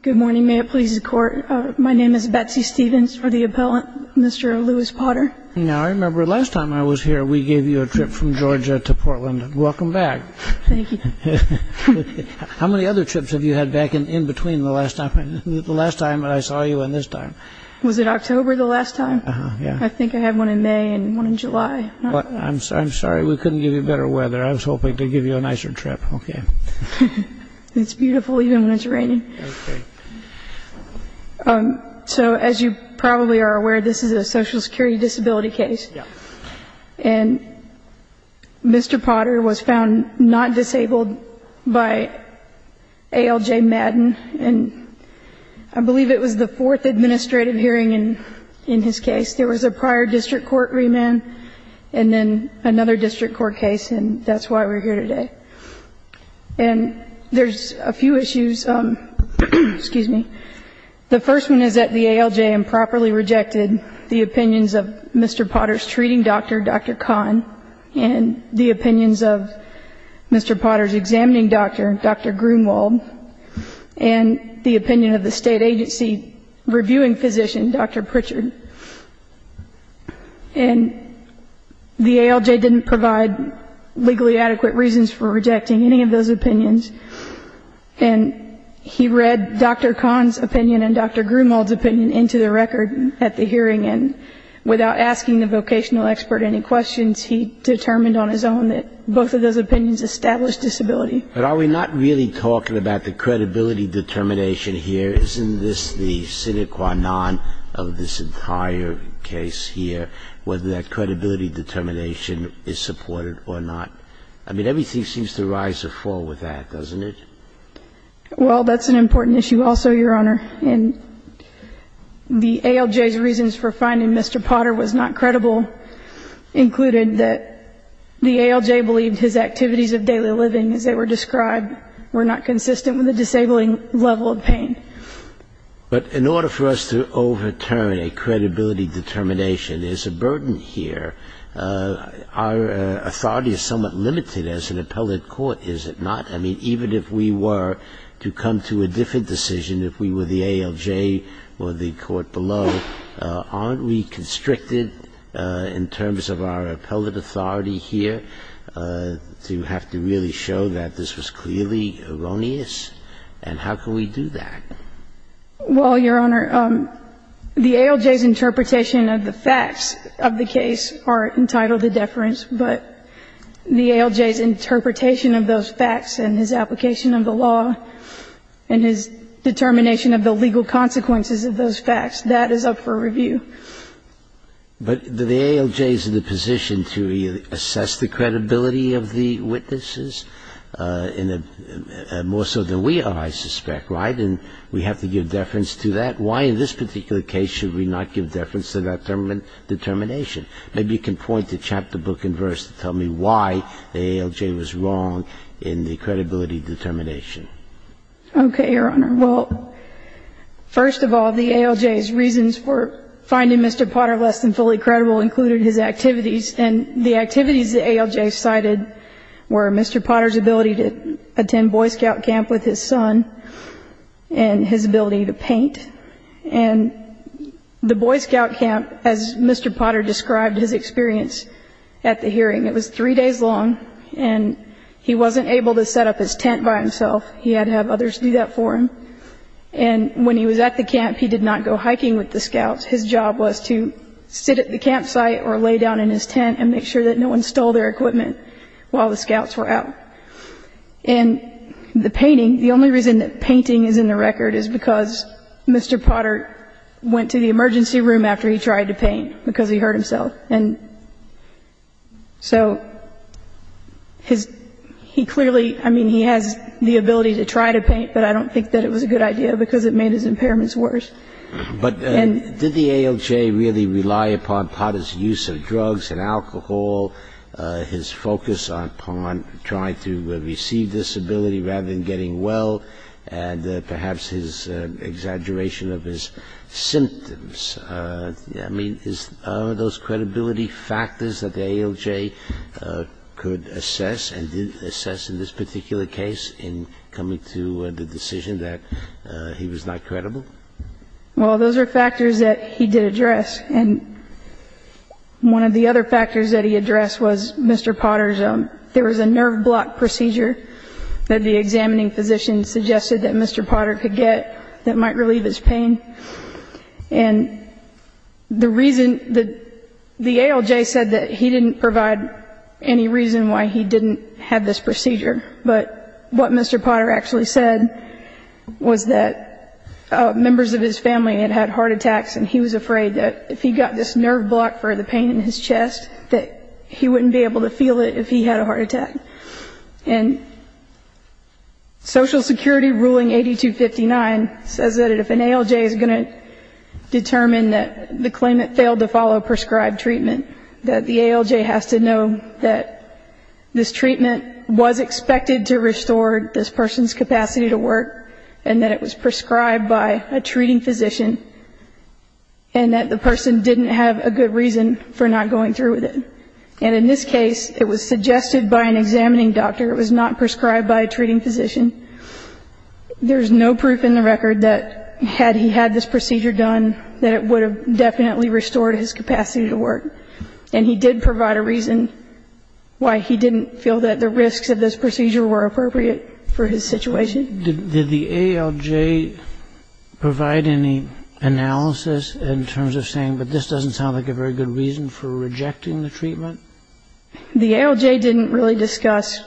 Good morning, may it please the Court. My name is Betsy Stevens for the Appellant, Mr. Lewis Potter. Now I remember last time I was here we gave you a trip from Georgia to Portland. Welcome back. Thank you. How many other trips have you had back in between the last time I saw you and this time? Was it October the last time? I think I had one in May and one in July. I'm sorry we couldn't give you better weather. I was hoping to give you a nicer trip. Okay. It's beautiful even when it's raining. Okay. So as you probably are aware, this is a Social Security disability case. Yes. And Mr. Potter was found not disabled by ALJ Madden. And I believe it was the fourth administrative hearing in his case. There was a prior district court remand and then another district court case, and that's why we're here today. And there's a few issues. Excuse me. The first one is that the ALJ improperly rejected the opinions of Mr. Potter's treating doctor, Dr. Kahn, and the opinions of Mr. Potter's examining doctor, Dr. Grunewald, and the opinion of the state agency reviewing physician, Dr. Pritchard. And the ALJ didn't provide legally adequate reasons for rejecting any of those opinions. And he read Dr. Kahn's opinion and Dr. Grunewald's opinion into the record at the hearing, and without asking the vocational expert any questions, he determined on his own that both of those opinions established disability. But are we not really talking about the credibility determination here? Isn't this the sine qua non of this entire case here, whether that credibility determination is supported or not? I mean, everything seems to rise or fall with that, doesn't it? Well, that's an important issue also, Your Honor. And the ALJ's reasons for finding Mr. Potter was not credible included that the ALJ believed his activities of daily living as they were described were not consistent with the disabling level of pain. But in order for us to overturn a credibility determination, there's a burden here. Our authority is somewhat limited as an appellate court, is it not? I mean, even if we were to come to a different decision, if we were the ALJ or the court below, aren't we constricted in terms of our appellate authority here to have to really show that this was clearly erroneous? And how can we do that? Well, Your Honor, the ALJ's interpretation of the facts of the case are entitled to deference, but the ALJ's interpretation of those facts and his application of the law and his determination of the legal consequences of those facts, that is up for review. But the ALJ is in a position to assess the credibility of the witnesses more so than we are, I suspect, right? And we have to give deference to that. Why in this particular case should we not give deference to that determination? Maybe you can point to chapter, book, and verse to tell me why the ALJ was wrong in the credibility determination. Okay, Your Honor. Well, first of all, the ALJ's reasons for finding Mr. Potter less than fully credible included his activities. And the activities the ALJ cited were Mr. Potter's ability to attend Boy Scout camp with his son and his ability to paint. And the Boy Scout camp, as Mr. Potter described his experience at the hearing, it was three days long, and he wasn't able to set up his tent by himself. He had to have others do that for him. And when he was at the camp, he did not go hiking with the scouts. His job was to sit at the campsite or lay down in his tent and make sure that no one stole their equipment while the scouts were out. And the painting, the only reason that painting is in the record is because Mr. Potter went to the emergency room after he tried to paint, because he hurt himself. And so his ‑‑ he clearly, I mean, he has the ability to try to paint, but I don't think that it was a good idea because it made his impairments worse. But did the ALJ really rely upon Potter's use of drugs and alcohol, his focus on trying to receive disability rather than getting well, and perhaps his exaggeration of his symptoms? I mean, are those credibility factors that the ALJ could assess and did assess in this particular case in coming to the decision that he was not credible? Well, those are factors that he did address. And one of the other factors that he addressed was Mr. Potter's ‑‑ there was a nerve block procedure that the examining physician suggested that Mr. Potter could get that might relieve his pain. And the reason ‑‑ the ALJ said that he didn't provide any reason why he didn't have this procedure. But what Mr. Potter actually said was that members of his family had had heart attacks and he was afraid that if he got this nerve block for the pain in his chest, that he wouldn't be able to feel it if he had a heart attack. And Social Security ruling 8259 says that if an ALJ is going to determine that the claimant failed to follow prescribed treatment, that the ALJ has to know that this treatment was expected to restore this person's capacity to work and that it was prescribed by a treating physician and that the person didn't have a good reason for not going through with it. And in this case, it was suggested by an examining doctor. It was not prescribed by a treating physician. There's no proof in the record that had he had this procedure done, that it would have definitely restored his capacity to work. And he did provide a reason why he didn't feel that the risks of this procedure were appropriate for his situation. Did the ALJ provide any analysis in terms of saying, but this doesn't sound like a very good reason for rejecting the treatment? The ALJ didn't really discuss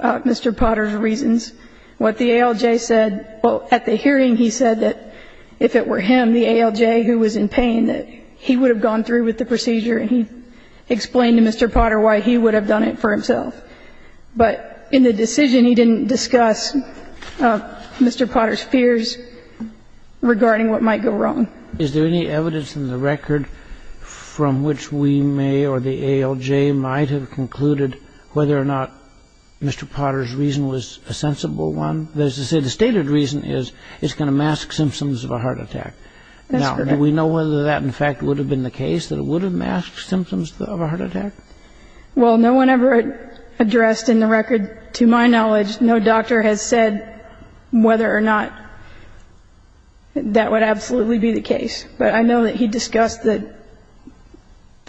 Mr. Potter's reasons. What the ALJ said, well, at the hearing he said that if it were him, the ALJ, who was in pain, that he would have gone through with the procedure and he explained to Mr. Potter why he would have done it for himself. But in the decision, he didn't discuss Mr. Potter's fears regarding what might go wrong. Is there any evidence in the record from which we may or the ALJ might have concluded whether or not Mr. Potter's reason was a sensible one? That is to say, the stated reason is it's going to mask symptoms of a heart attack. That's correct. Now, do we know whether that, in fact, would have been the case, that it would have masked symptoms of a heart attack? Well, no one ever addressed in the record, to my knowledge, no doctor has said whether or not that would absolutely be the case. But I know that he discussed the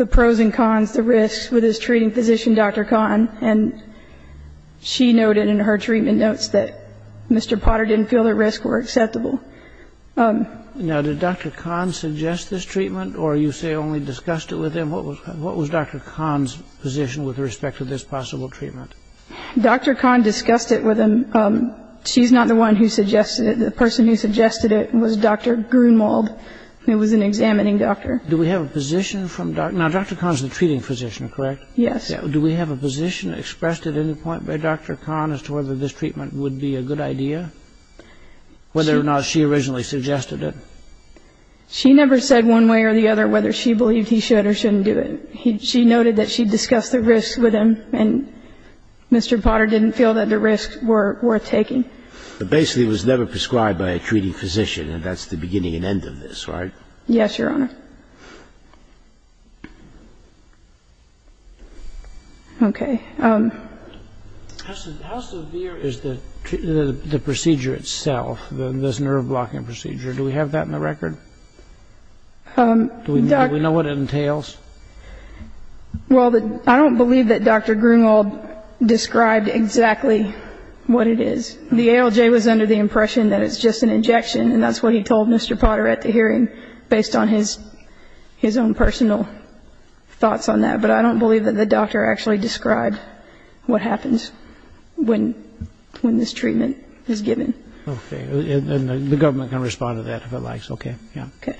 pros and cons, the risks, with his treating physician, Dr. Kahn, and she noted in her treatment notes that Mr. Potter didn't feel the risks were acceptable. Now, did Dr. Kahn suggest this treatment, or you say only discussed it with him? What was Dr. Kahn's position with respect to this possible treatment? Dr. Kahn discussed it with him. She's not the one who suggested it. The person who suggested it was Dr. Grunewald, who was an examining doctor. Do we have a position from Dr. Kahn? Now, Dr. Kahn is the treating physician, correct? Yes. Do we have a position expressed at any point by Dr. Kahn as to whether this treatment would be a good idea? Whether or not she originally suggested it. She never said one way or the other whether she believed he should or shouldn't do it. She noted that she discussed the risks with him, and Mr. Potter didn't feel that the risks were worth taking. But basically it was never prescribed by a treating physician, and that's the beginning and end of this, right? Yes, Your Honor. Okay. How severe is the procedure itself, this nerve-blocking procedure? Do we have that in the record? Do we know what it entails? Well, I don't believe that Dr. Grunewald described exactly what it is. The ALJ was under the impression that it's just an injection, and that's what he told Mr. Potter at the hearing based on his own personal thoughts on that. But I don't believe that the doctor actually described what happens when this treatment is given. Okay. And the government can respond to that if it likes, okay? Yeah. Okay.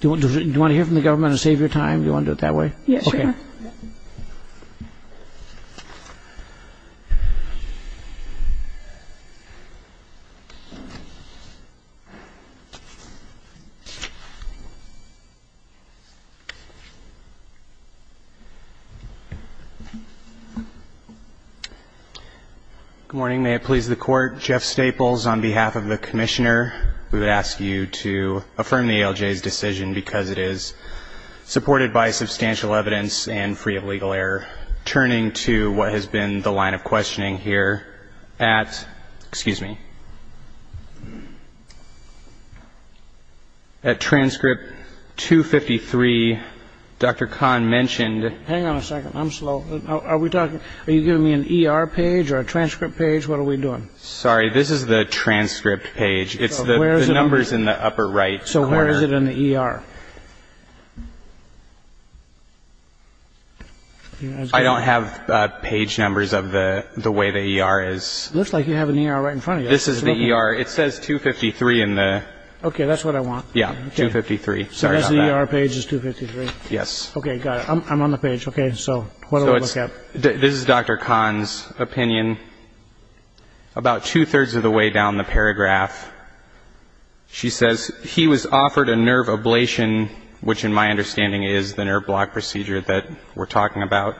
Do you want to hear from the government and save your time? Yes, Your Honor. Thank you. Good morning. May it please the Court, Jeff Staples, on behalf of the Commissioner, we would ask you to affirm the ALJ's decision because it is supported by substantial evidence and free of legal error. Turning to what has been the line of questioning here at, excuse me, at transcript 253, Dr. Kahn mentioned ---- Hang on a second. I'm slow. Are you giving me an ER page or a transcript page? What are we doing? Sorry. This is the transcript page. It's the numbers in the upper right. So where is it in the ER? I don't have page numbers of the way the ER is. It looks like you have an ER right in front of you. This is the ER. It says 253 in the ---- Okay. That's what I want. Yeah. 253. Sorry about that. So that's the ER page is 253? Yes. Okay. Got it. I'm on the page. Okay. So what do I look at? This is Dr. Kahn's opinion. About two-thirds of the way down the paragraph, she says, he was offered a nerve ablation, which in my understanding is the nerve block procedure that we're talking about.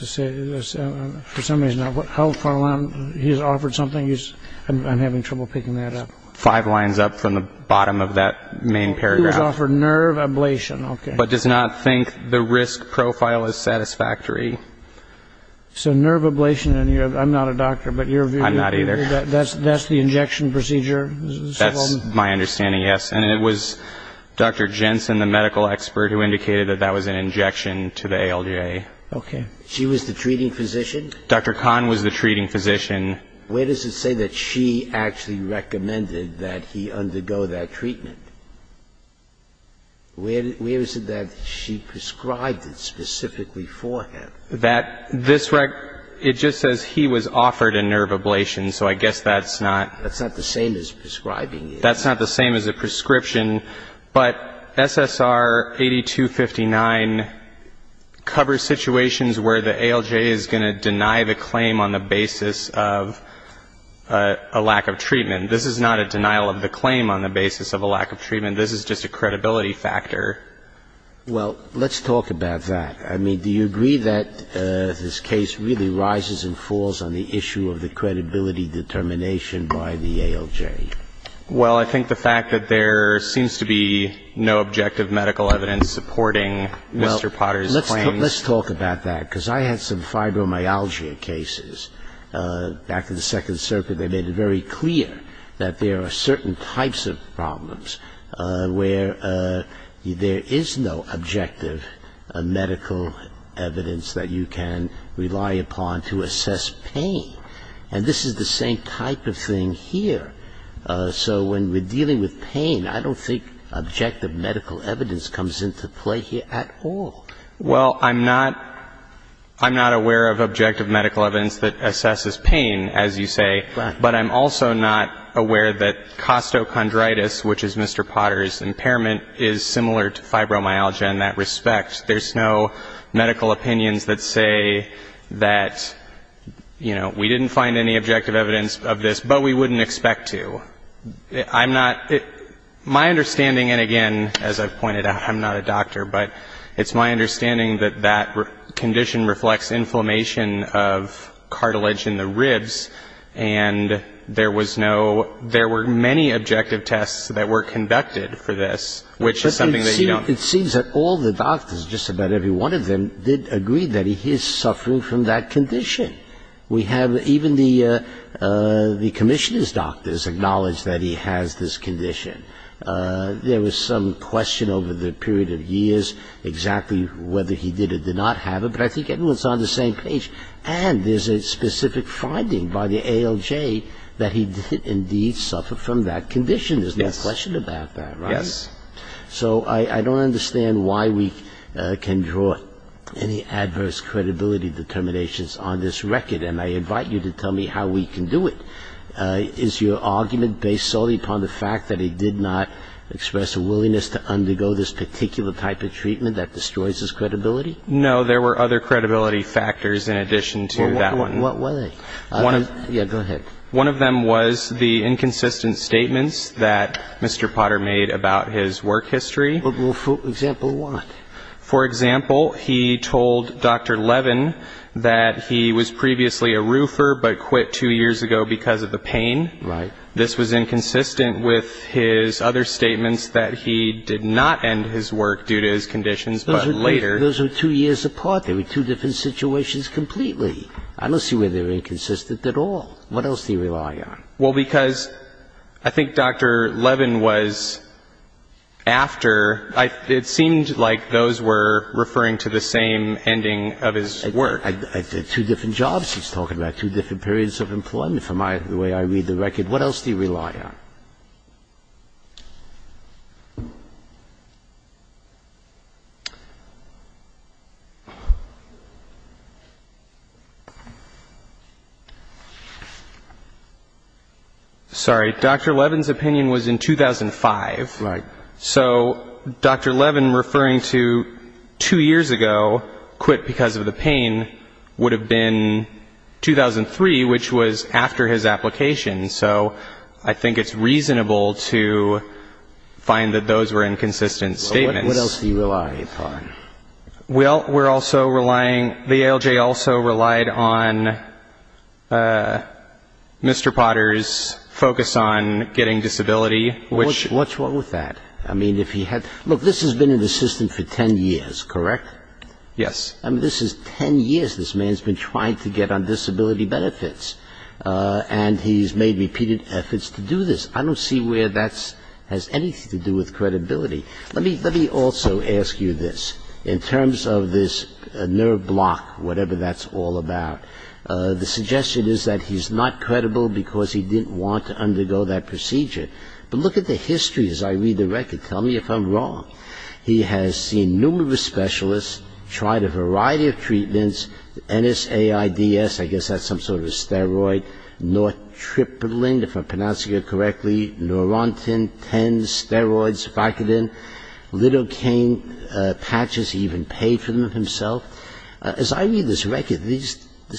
For some reason, how far along he's offered something, I'm having trouble picking that up. Five lines up from the bottom of that main paragraph. He was offered nerve ablation. Okay. But does not think the risk profile is satisfactory. So nerve ablation in your ---- I'm not a doctor, but your view ---- I'm not either. That's the injection procedure? That's my understanding, yes. And it was Dr. Jensen, the medical expert, who indicated that that was an injection to the ALJ. Okay. She was the treating physician? Dr. Kahn was the treating physician. Where does it say that she actually recommended that he undergo that treatment? Where is it that she prescribed it specifically for him? That this ---- it just says he was offered a nerve ablation, so I guess that's not ---- That's not the same as prescribing it. That's not the same as a prescription. But SSR 8259 covers situations where the ALJ is going to deny the claim on the basis of a lack of treatment. This is not a denial of the claim on the basis of a lack of treatment. This is just a credibility factor. Well, let's talk about that. I mean, do you agree that this case really rises and falls on the issue of the credibility determination by the ALJ? Well, I think the fact that there seems to be no objective medical evidence supporting Mr. Potter's claims ---- Well, let's talk about that, because I had some fibromyalgia cases. Back in the Second Circuit, they made it very clear that there are certain types of problems where there is no objective medical evidence that you can rely upon to assess pain. And this is the same type of thing here. So when we're dealing with pain, I don't think objective medical evidence comes into play here at all. Well, I'm not aware of objective medical evidence that assesses pain, as you say. Right. But I'm also not aware that costochondritis, which is Mr. Potter's impairment, is similar to fibromyalgia in that respect. There's no medical opinions that say that, you know, we didn't find any objective evidence of this, but we wouldn't expect to. I'm not ---- my understanding, and again, as I've pointed out, I'm not a doctor, but it's my understanding that that condition reflects inflammation of cartilage in the ribs, and there was no ---- there were many objective tests that were conducted for this, which is something that you don't ---- Well, it seems that all the doctors, just about every one of them, did agree that he is suffering from that condition. We have even the commissioner's doctors acknowledge that he has this condition. There was some question over the period of years exactly whether he did or did not have it, but I think everyone's on the same page. And there's a specific finding by the ALJ that he did indeed suffer from that condition. There's no question about that, right? Yes. So I don't understand why we can draw any adverse credibility determinations on this record, and I invite you to tell me how we can do it. Is your argument based solely upon the fact that he did not express a willingness to undergo this particular type of treatment that destroys his credibility? No, there were other credibility factors in addition to that one. What were they? Yeah, go ahead. One of them was the inconsistent statements that Mr. Potter made about his work history. Well, for example, what? For example, he told Dr. Levin that he was previously a roofer but quit two years ago because of the pain. Right. This was inconsistent with his other statements that he did not end his work due to his conditions, but later. Those were two years apart. They were two different situations completely. I don't see where they're inconsistent at all. What else do you rely on? Well, because I think Dr. Levin was after. It seemed like those were referring to the same ending of his work. Two different jobs he's talking about, two different periods of employment from the way I read the record. What else do you rely on? Sorry. Dr. Levin's opinion was in 2005. Right. So Dr. Levin referring to two years ago, quit because of the pain, would have been 2003, which was after his application. So I think it's reasonable to find that those were inconsistent statements. What else do you rely upon? Well, we're also relying the ALJ also relied on Mr. Potter's focus on getting disability, which What's wrong with that? I mean, if he had Look, this has been an assistant for 10 years, correct? Yes. I mean, this is 10 years this man's been trying to get on disability benefits. And he's made repeated efforts to do this. I don't see where that has anything to do with credibility. Let me also ask you this. In terms of this nerve block, whatever that's all about, the suggestion is that he's not credible because he didn't want to undergo that procedure. But look at the history as I read the record. Tell me if I'm wrong. He has seen numerous specialists, tried a variety of treatments. NSAIDS, I guess that's some sort of a steroid. Nortripiline, if I'm pronouncing it correctly. Norentin, TENS, steroids, Vicodin, lidocaine patches, he even paid for them himself. As I read this record, this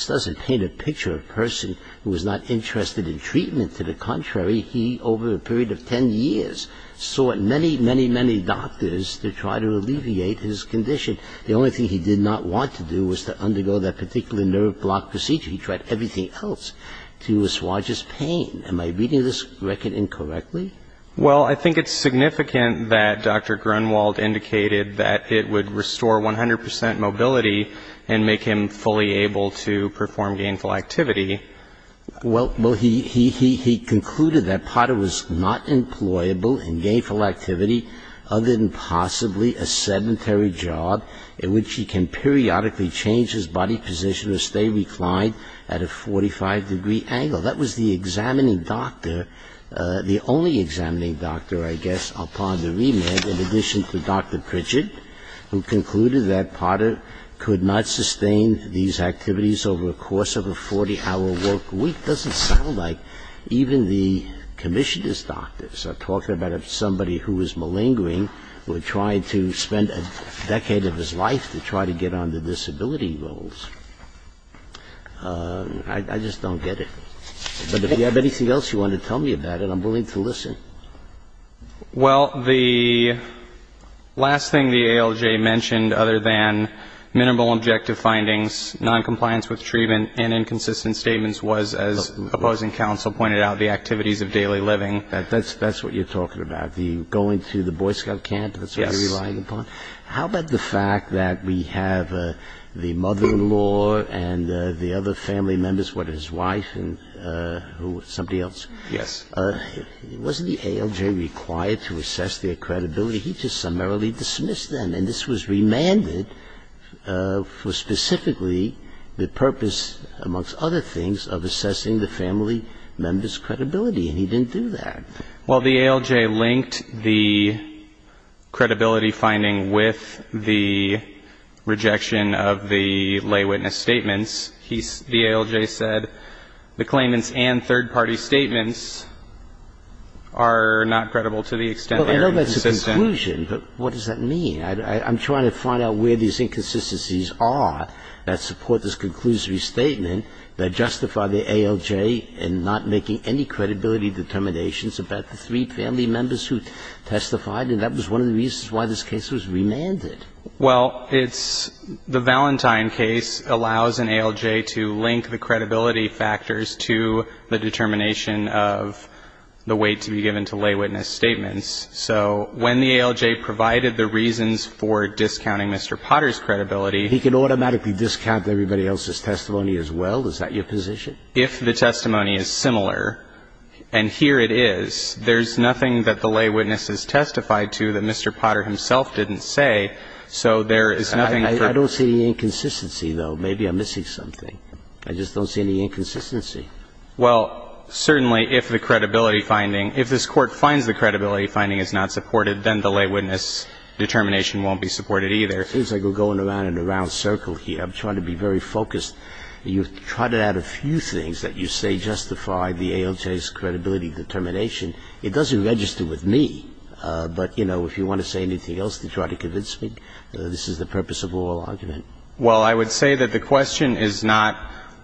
doesn't paint a picture of a person who is not interested in treatment. To the contrary, he over a period of 10 years sought many, many, many doctors to try to alleviate his condition. The only thing he did not want to do was to undergo that particular nerve block procedure. He tried everything else to assuage his pain. Am I reading this record incorrectly? Well, I think it's significant that Dr. Grunwald indicated that it would restore 100 percent mobility and make him fully able to perform gainful activity. Well, he concluded that Potter was not employable in gainful activity other than possibly a sedentary job in which he can periodically change his body position or stay reclined at a 45-degree angle. That was the examining doctor, the only examining doctor, I guess, upon the remand, in addition to Dr. Pritchett, who concluded that Potter could not sustain these activities over a course of a 40-hour work week. It doesn't sound like even the commissioner's doctors are talking about somebody who was malingering, who had tried to spend a decade of his life to try to get on the disability rolls. I just don't get it. But if you have anything else you want to tell me about it, I'm willing to listen. Well, the last thing the ALJ mentioned other than minimal objective findings, noncompliance with treatment, and inconsistent statements was, as opposing counsel pointed out, the activities of daily living. That's what you're talking about, the going to the Boy Scout camp, that's what you're relying upon? Yes. How about the fact that we have the mother-in-law and the other family members, what, his wife and somebody else? Yes. Wasn't the ALJ required to assess their credibility? He just summarily dismissed them. And this was remanded for specifically the purpose, amongst other things, of assessing the family members' credibility, and he didn't do that. Well, the ALJ linked the credibility finding with the rejection of the lay witness statements. The ALJ said the claimants and third-party statements are not credible to the extent they are inconsistent. Well, I know that's a conclusion, but what does that mean? I'm trying to find out where these inconsistencies are that support this conclusive statement that justify the ALJ in not making any credibility determinations about the three family members who testified, and that was one of the reasons why this case was remanded. Well, it's the Valentine case allows an ALJ to link the credibility factors to the determination of the weight to be given to lay witness statements. So when the ALJ provided the reasons for discounting Mr. Potter's credibility He can automatically discount everybody else's testimony as well? Is that your position? If the testimony is similar, and here it is, there's nothing that the lay witness has testified to that Mr. Potter himself didn't say, so there is nothing for I don't see any inconsistency, though. Maybe I'm missing something. I just don't see any inconsistency. Well, certainly if the credibility finding, if this Court finds the credibility finding is not supported, then the lay witness determination won't be supported either. It seems like we're going around in a round circle here. I'm trying to be very focused. You've tried to add a few things that you say justify the ALJ's credibility determination. It doesn't register with me. But, you know, if you want to say anything else to try to convince me, this is the purpose of oral argument. Well, I would say that the question is not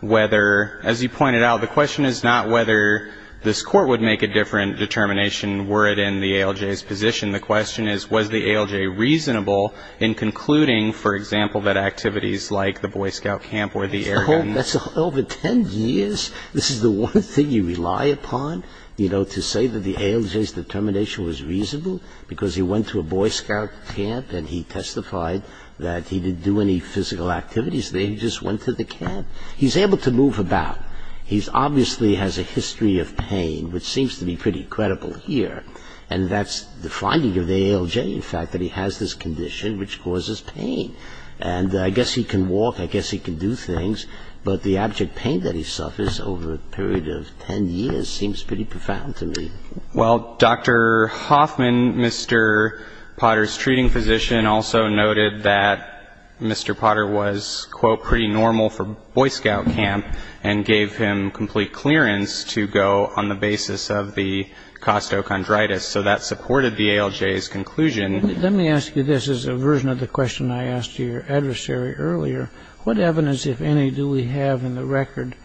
whether, as you pointed out, the question is not whether this Court would make a different determination were it in the ALJ's position. The question is, was the ALJ reasonable in concluding, for example, that activities like the Boy Scout camp or the air guns That's over 10 years. This is the one thing you rely upon, you know, to say that the ALJ's determination was reasonable because he went to a Boy Scout camp and he testified that he didn't do any physical activities there. He just went to the camp. He's able to move about. He obviously has a history of pain, which seems to be pretty credible here. And that's the finding of the ALJ, in fact, that he has this condition which causes pain. And I guess he can walk. I guess he can do things. But the abject pain that he suffers over a period of 10 years seems pretty profound to me. Well, Dr. Hoffman, Mr. Potter's treating physician, also noted that Mr. Potter was, quote, pretty normal for Boy Scout camp and gave him complete clearance to go on the basis of the costochondritis. So that supported the ALJ's conclusion. Let me ask you this. As a version of the question I asked your adversary earlier, what evidence, if any, do we have in the record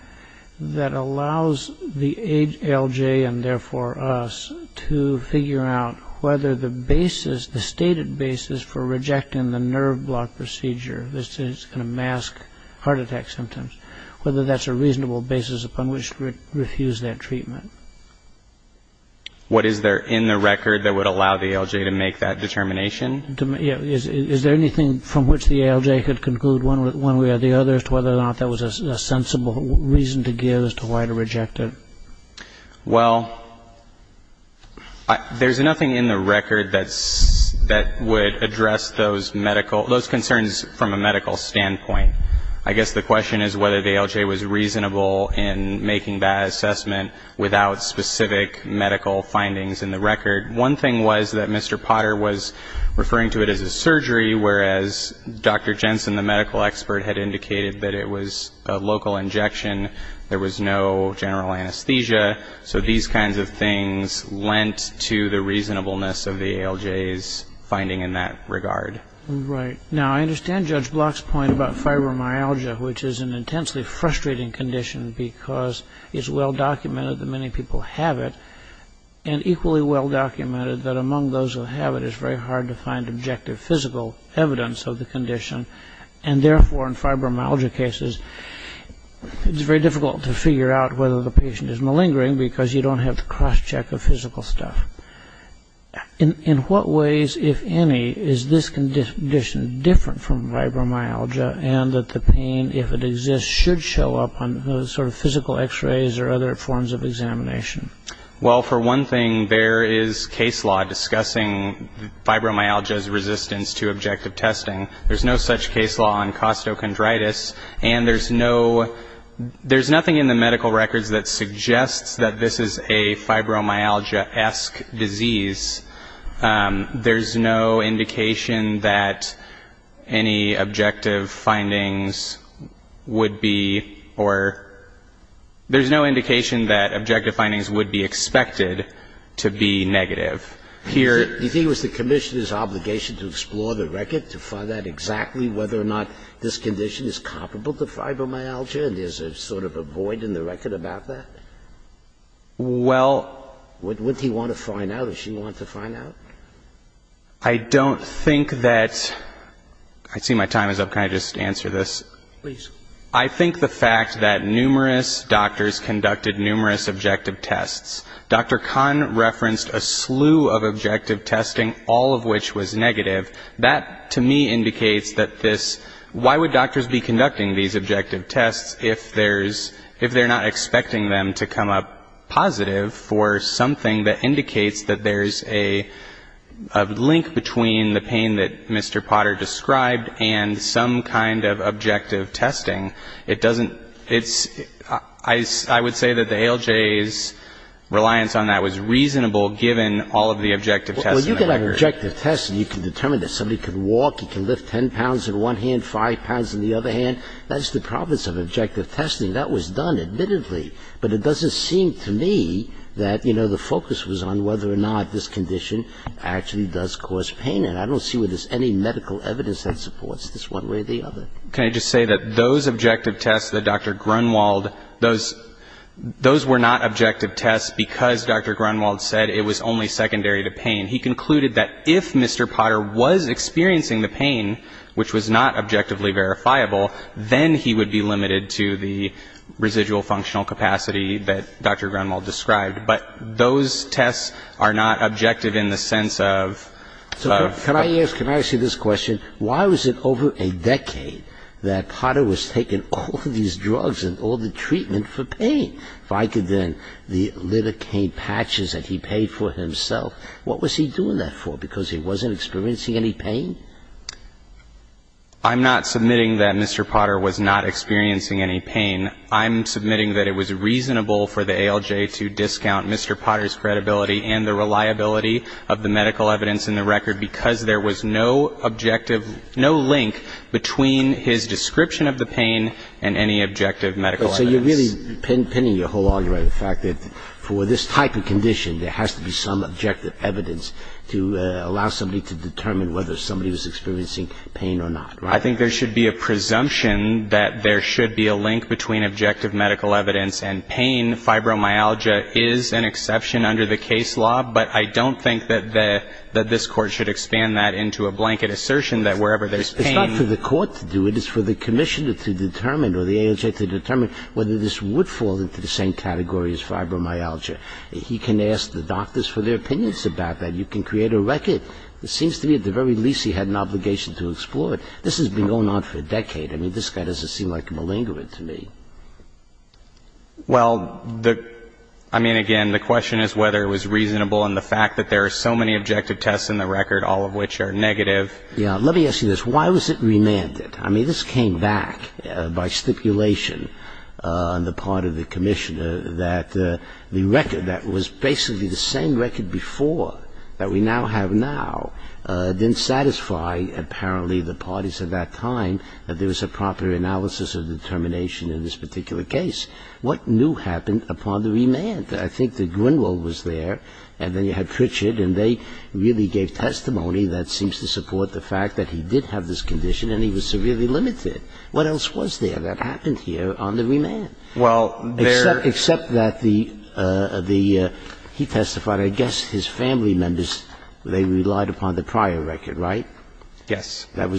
that allows the ALJ and, therefore, us to figure out whether the basis, the stated basis for rejecting the nerve block procedure that's going to mask heart attack symptoms, whether that's a reasonable basis upon which to refuse that treatment? What is there in the record that would allow the ALJ to make that determination? Is there anything from which the ALJ could conclude one way or the other as to whether or not that was a sensible reason to give as to why to reject it? Well, there's nothing in the record that would address those concerns from a medical standpoint. I guess the question is whether the ALJ was reasonable in making that assessment without specific medical findings in the record. One thing was that Mr. Potter was referring to it as a surgery, whereas Dr. Jensen, the medical expert, had indicated that it was a local injection. There was no general anesthesia. So these kinds of things lent to the reasonableness of the ALJ's finding in that regard. Right. Now, I understand Judge Block's point about fibromyalgia, which is an intensely frustrating condition because it's well-documented that many people have it and equally well-documented that among those who have it it's very hard to find objective physical evidence of the condition. And therefore, in fibromyalgia cases, it's very difficult to figure out whether the patient is malingering because you don't have the cross-check of physical stuff. In what ways, if any, is this condition different from fibromyalgia and that the pain, if it exists, should show up on sort of physical X-rays or other forms of examination? Well, for one thing, there is case law discussing fibromyalgia's resistance to objective testing. There's no such case law on costochondritis. And there's nothing in the medical records that suggests that this is a fibromyalgia-esque disease. There's no indication that any objective findings would be or there's no indication that objective findings would be expected to be negative. Do you think it was the Commissioner's obligation to explore the record to find out exactly whether or not this condition is comparable to fibromyalgia and there's sort of a void in the record about that? Well... Wouldn't he want to find out? Does she want to find out? I don't think that... I see my time is up. Can I just answer this? Please. I think the fact that numerous doctors conducted numerous objective tests. Dr. Kahn referenced a slew of objective testing, all of which was negative. That, to me, indicates that this... Why would doctors be conducting these objective tests if there's... If they're not expecting them to come up positive for something that indicates that there's a link between the pain that Mr. Potter described and some kind of objective testing? It doesn't... It's... I would say that the ALJ's reliance on that was reasonable given all of the objective tests in the record. Well, you get an objective test and you can determine that somebody can walk, he can lift 10 pounds in one hand, 5 pounds in the other hand. That's the province of objective testing. That was done, admittedly. But it doesn't seem to me that, you know, the focus was on whether or not this condition actually does cause pain. And I don't see where there's any medical evidence that supports this one way or the other. Can I just say that those objective tests that Dr. Grunwald... Those were not objective tests because Dr. Grunwald said it was only secondary to pain. He concluded that if Mr. Potter was experiencing the pain, which was not objectively verifiable, then he would be limited to the residual functional capacity that Dr. Grunwald described. But those tests are not objective in the sense of... Can I ask you this question? Why was it over a decade that Potter was taking all of these drugs and all the treatment for pain? If I could then... The lidocaine patches that he paid for himself, what was he doing that for? Because he wasn't experiencing any pain? I'm not submitting that Mr. Potter was not experiencing any pain. I'm submitting that it was reasonable for the ALJ to discount Mr. Potter's credibility and the reliability of the medical evidence in the record because there was no objective, no link between his description of the pain and any objective medical evidence. So you're really pinning your whole argument on the fact that for this type of condition, there has to be some objective evidence to allow somebody to determine whether somebody was experiencing pain or not, right? I think there should be a presumption that there should be a link between objective medical evidence and pain. And fibromyalgia is an exception under the case law, but I don't think that this Court should expand that into a blanket assertion that wherever there's pain... It's not for the Court to do. It is for the Commissioner to determine or the ALJ to determine whether this would fall into the same category as fibromyalgia. He can ask the doctors for their opinions about that. You can create a record. It seems to me at the very least he had an obligation to explore it. This has been going on for a decade. I mean, this guy doesn't seem like a malingerant to me. Well, I mean, again, the question is whether it was reasonable in the fact that there are so many objective tests in the record, all of which are negative. Yeah. Let me ask you this. Why was it remanded? I mean, this came back by stipulation on the part of the Commissioner that the record that was basically the same record before that we now have now didn't satisfy, apparently, the parties at that time that there was a proper analysis of determination in this particular case. What new happened upon the remand? I think that Grunewald was there, and then you had Pritchard, and they really gave testimony that seems to support the fact that he did have this condition and he was severely limited. What else was there that happened here on the remand? Well, there... Except that the he testified, I guess, his family members, they relied upon the prior record, right? Yes. That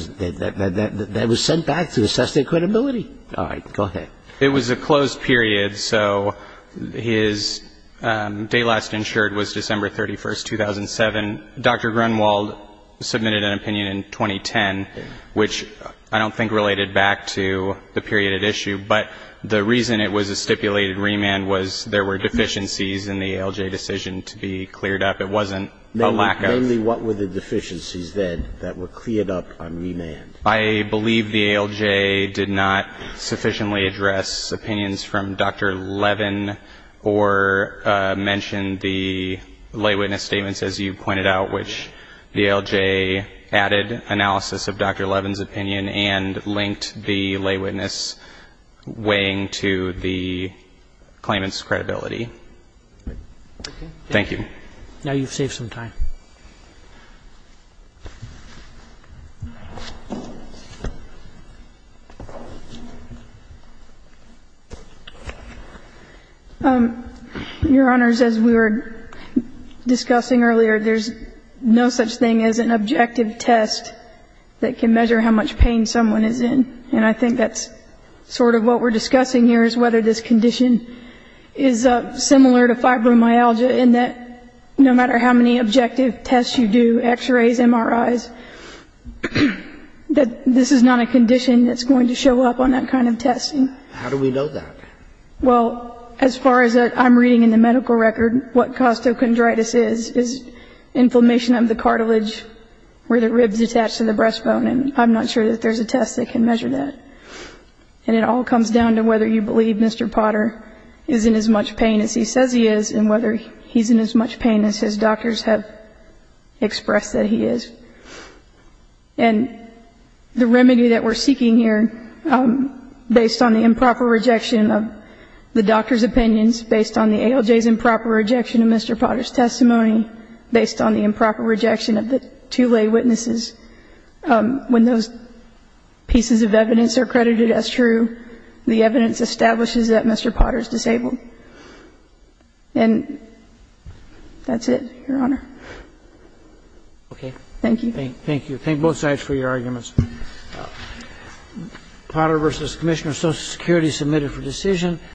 was sent back to assess their credibility. All right. Go ahead. It was a closed period, so his day last insured was December 31, 2007. Dr. Grunewald submitted an opinion in 2010, which I don't think related back to the period at issue, but the reason it was a stipulated remand was there were deficiencies in the ALJ decision to be cleared up. It wasn't a lack of... There were deficiencies in the ALJ decision that were cleared up on remand. I believe the ALJ did not sufficiently address opinions from Dr. Levin or mention the lay witness statements, as you pointed out, which the ALJ added analysis of Dr. Levin's opinion and linked the lay witness weighing to the claimant's credibility. Thank you. Now you've saved some time. Your Honors, as we were discussing earlier, there's no such thing as an objective test that can measure how much pain someone is in, and I think that's sort of what we're discussing here is whether this condition is similar to fibromyalgia in that no matter how many objective tests you do, x-rays, MRIs, that this is not a condition that's going to show up on that kind of testing. How do we know that? Well, as far as I'm reading in the medical record, what costochondritis is is inflammation of the cartilage where the ribs attach to the breastbone, and I'm not sure that there's a test that can measure that. And it all comes down to whether you believe Mr. Potter is in as much pain as he says he is and whether he's in as much pain as his doctors have expressed that he is. And the remedy that we're seeking here, based on the improper rejection of the doctor's opinions, based on the ALJ's improper rejection of Mr. Potter's testimony, based on the improper rejection of the two lay witnesses, when those pieces of evidence are credited as true, the evidence establishes that Mr. Potter is disabled. And that's it, Your Honor. Okay. Thank you. Thank you. Thank both sides for your arguments. Potter v. Commissioner of Social Security submitted for decision.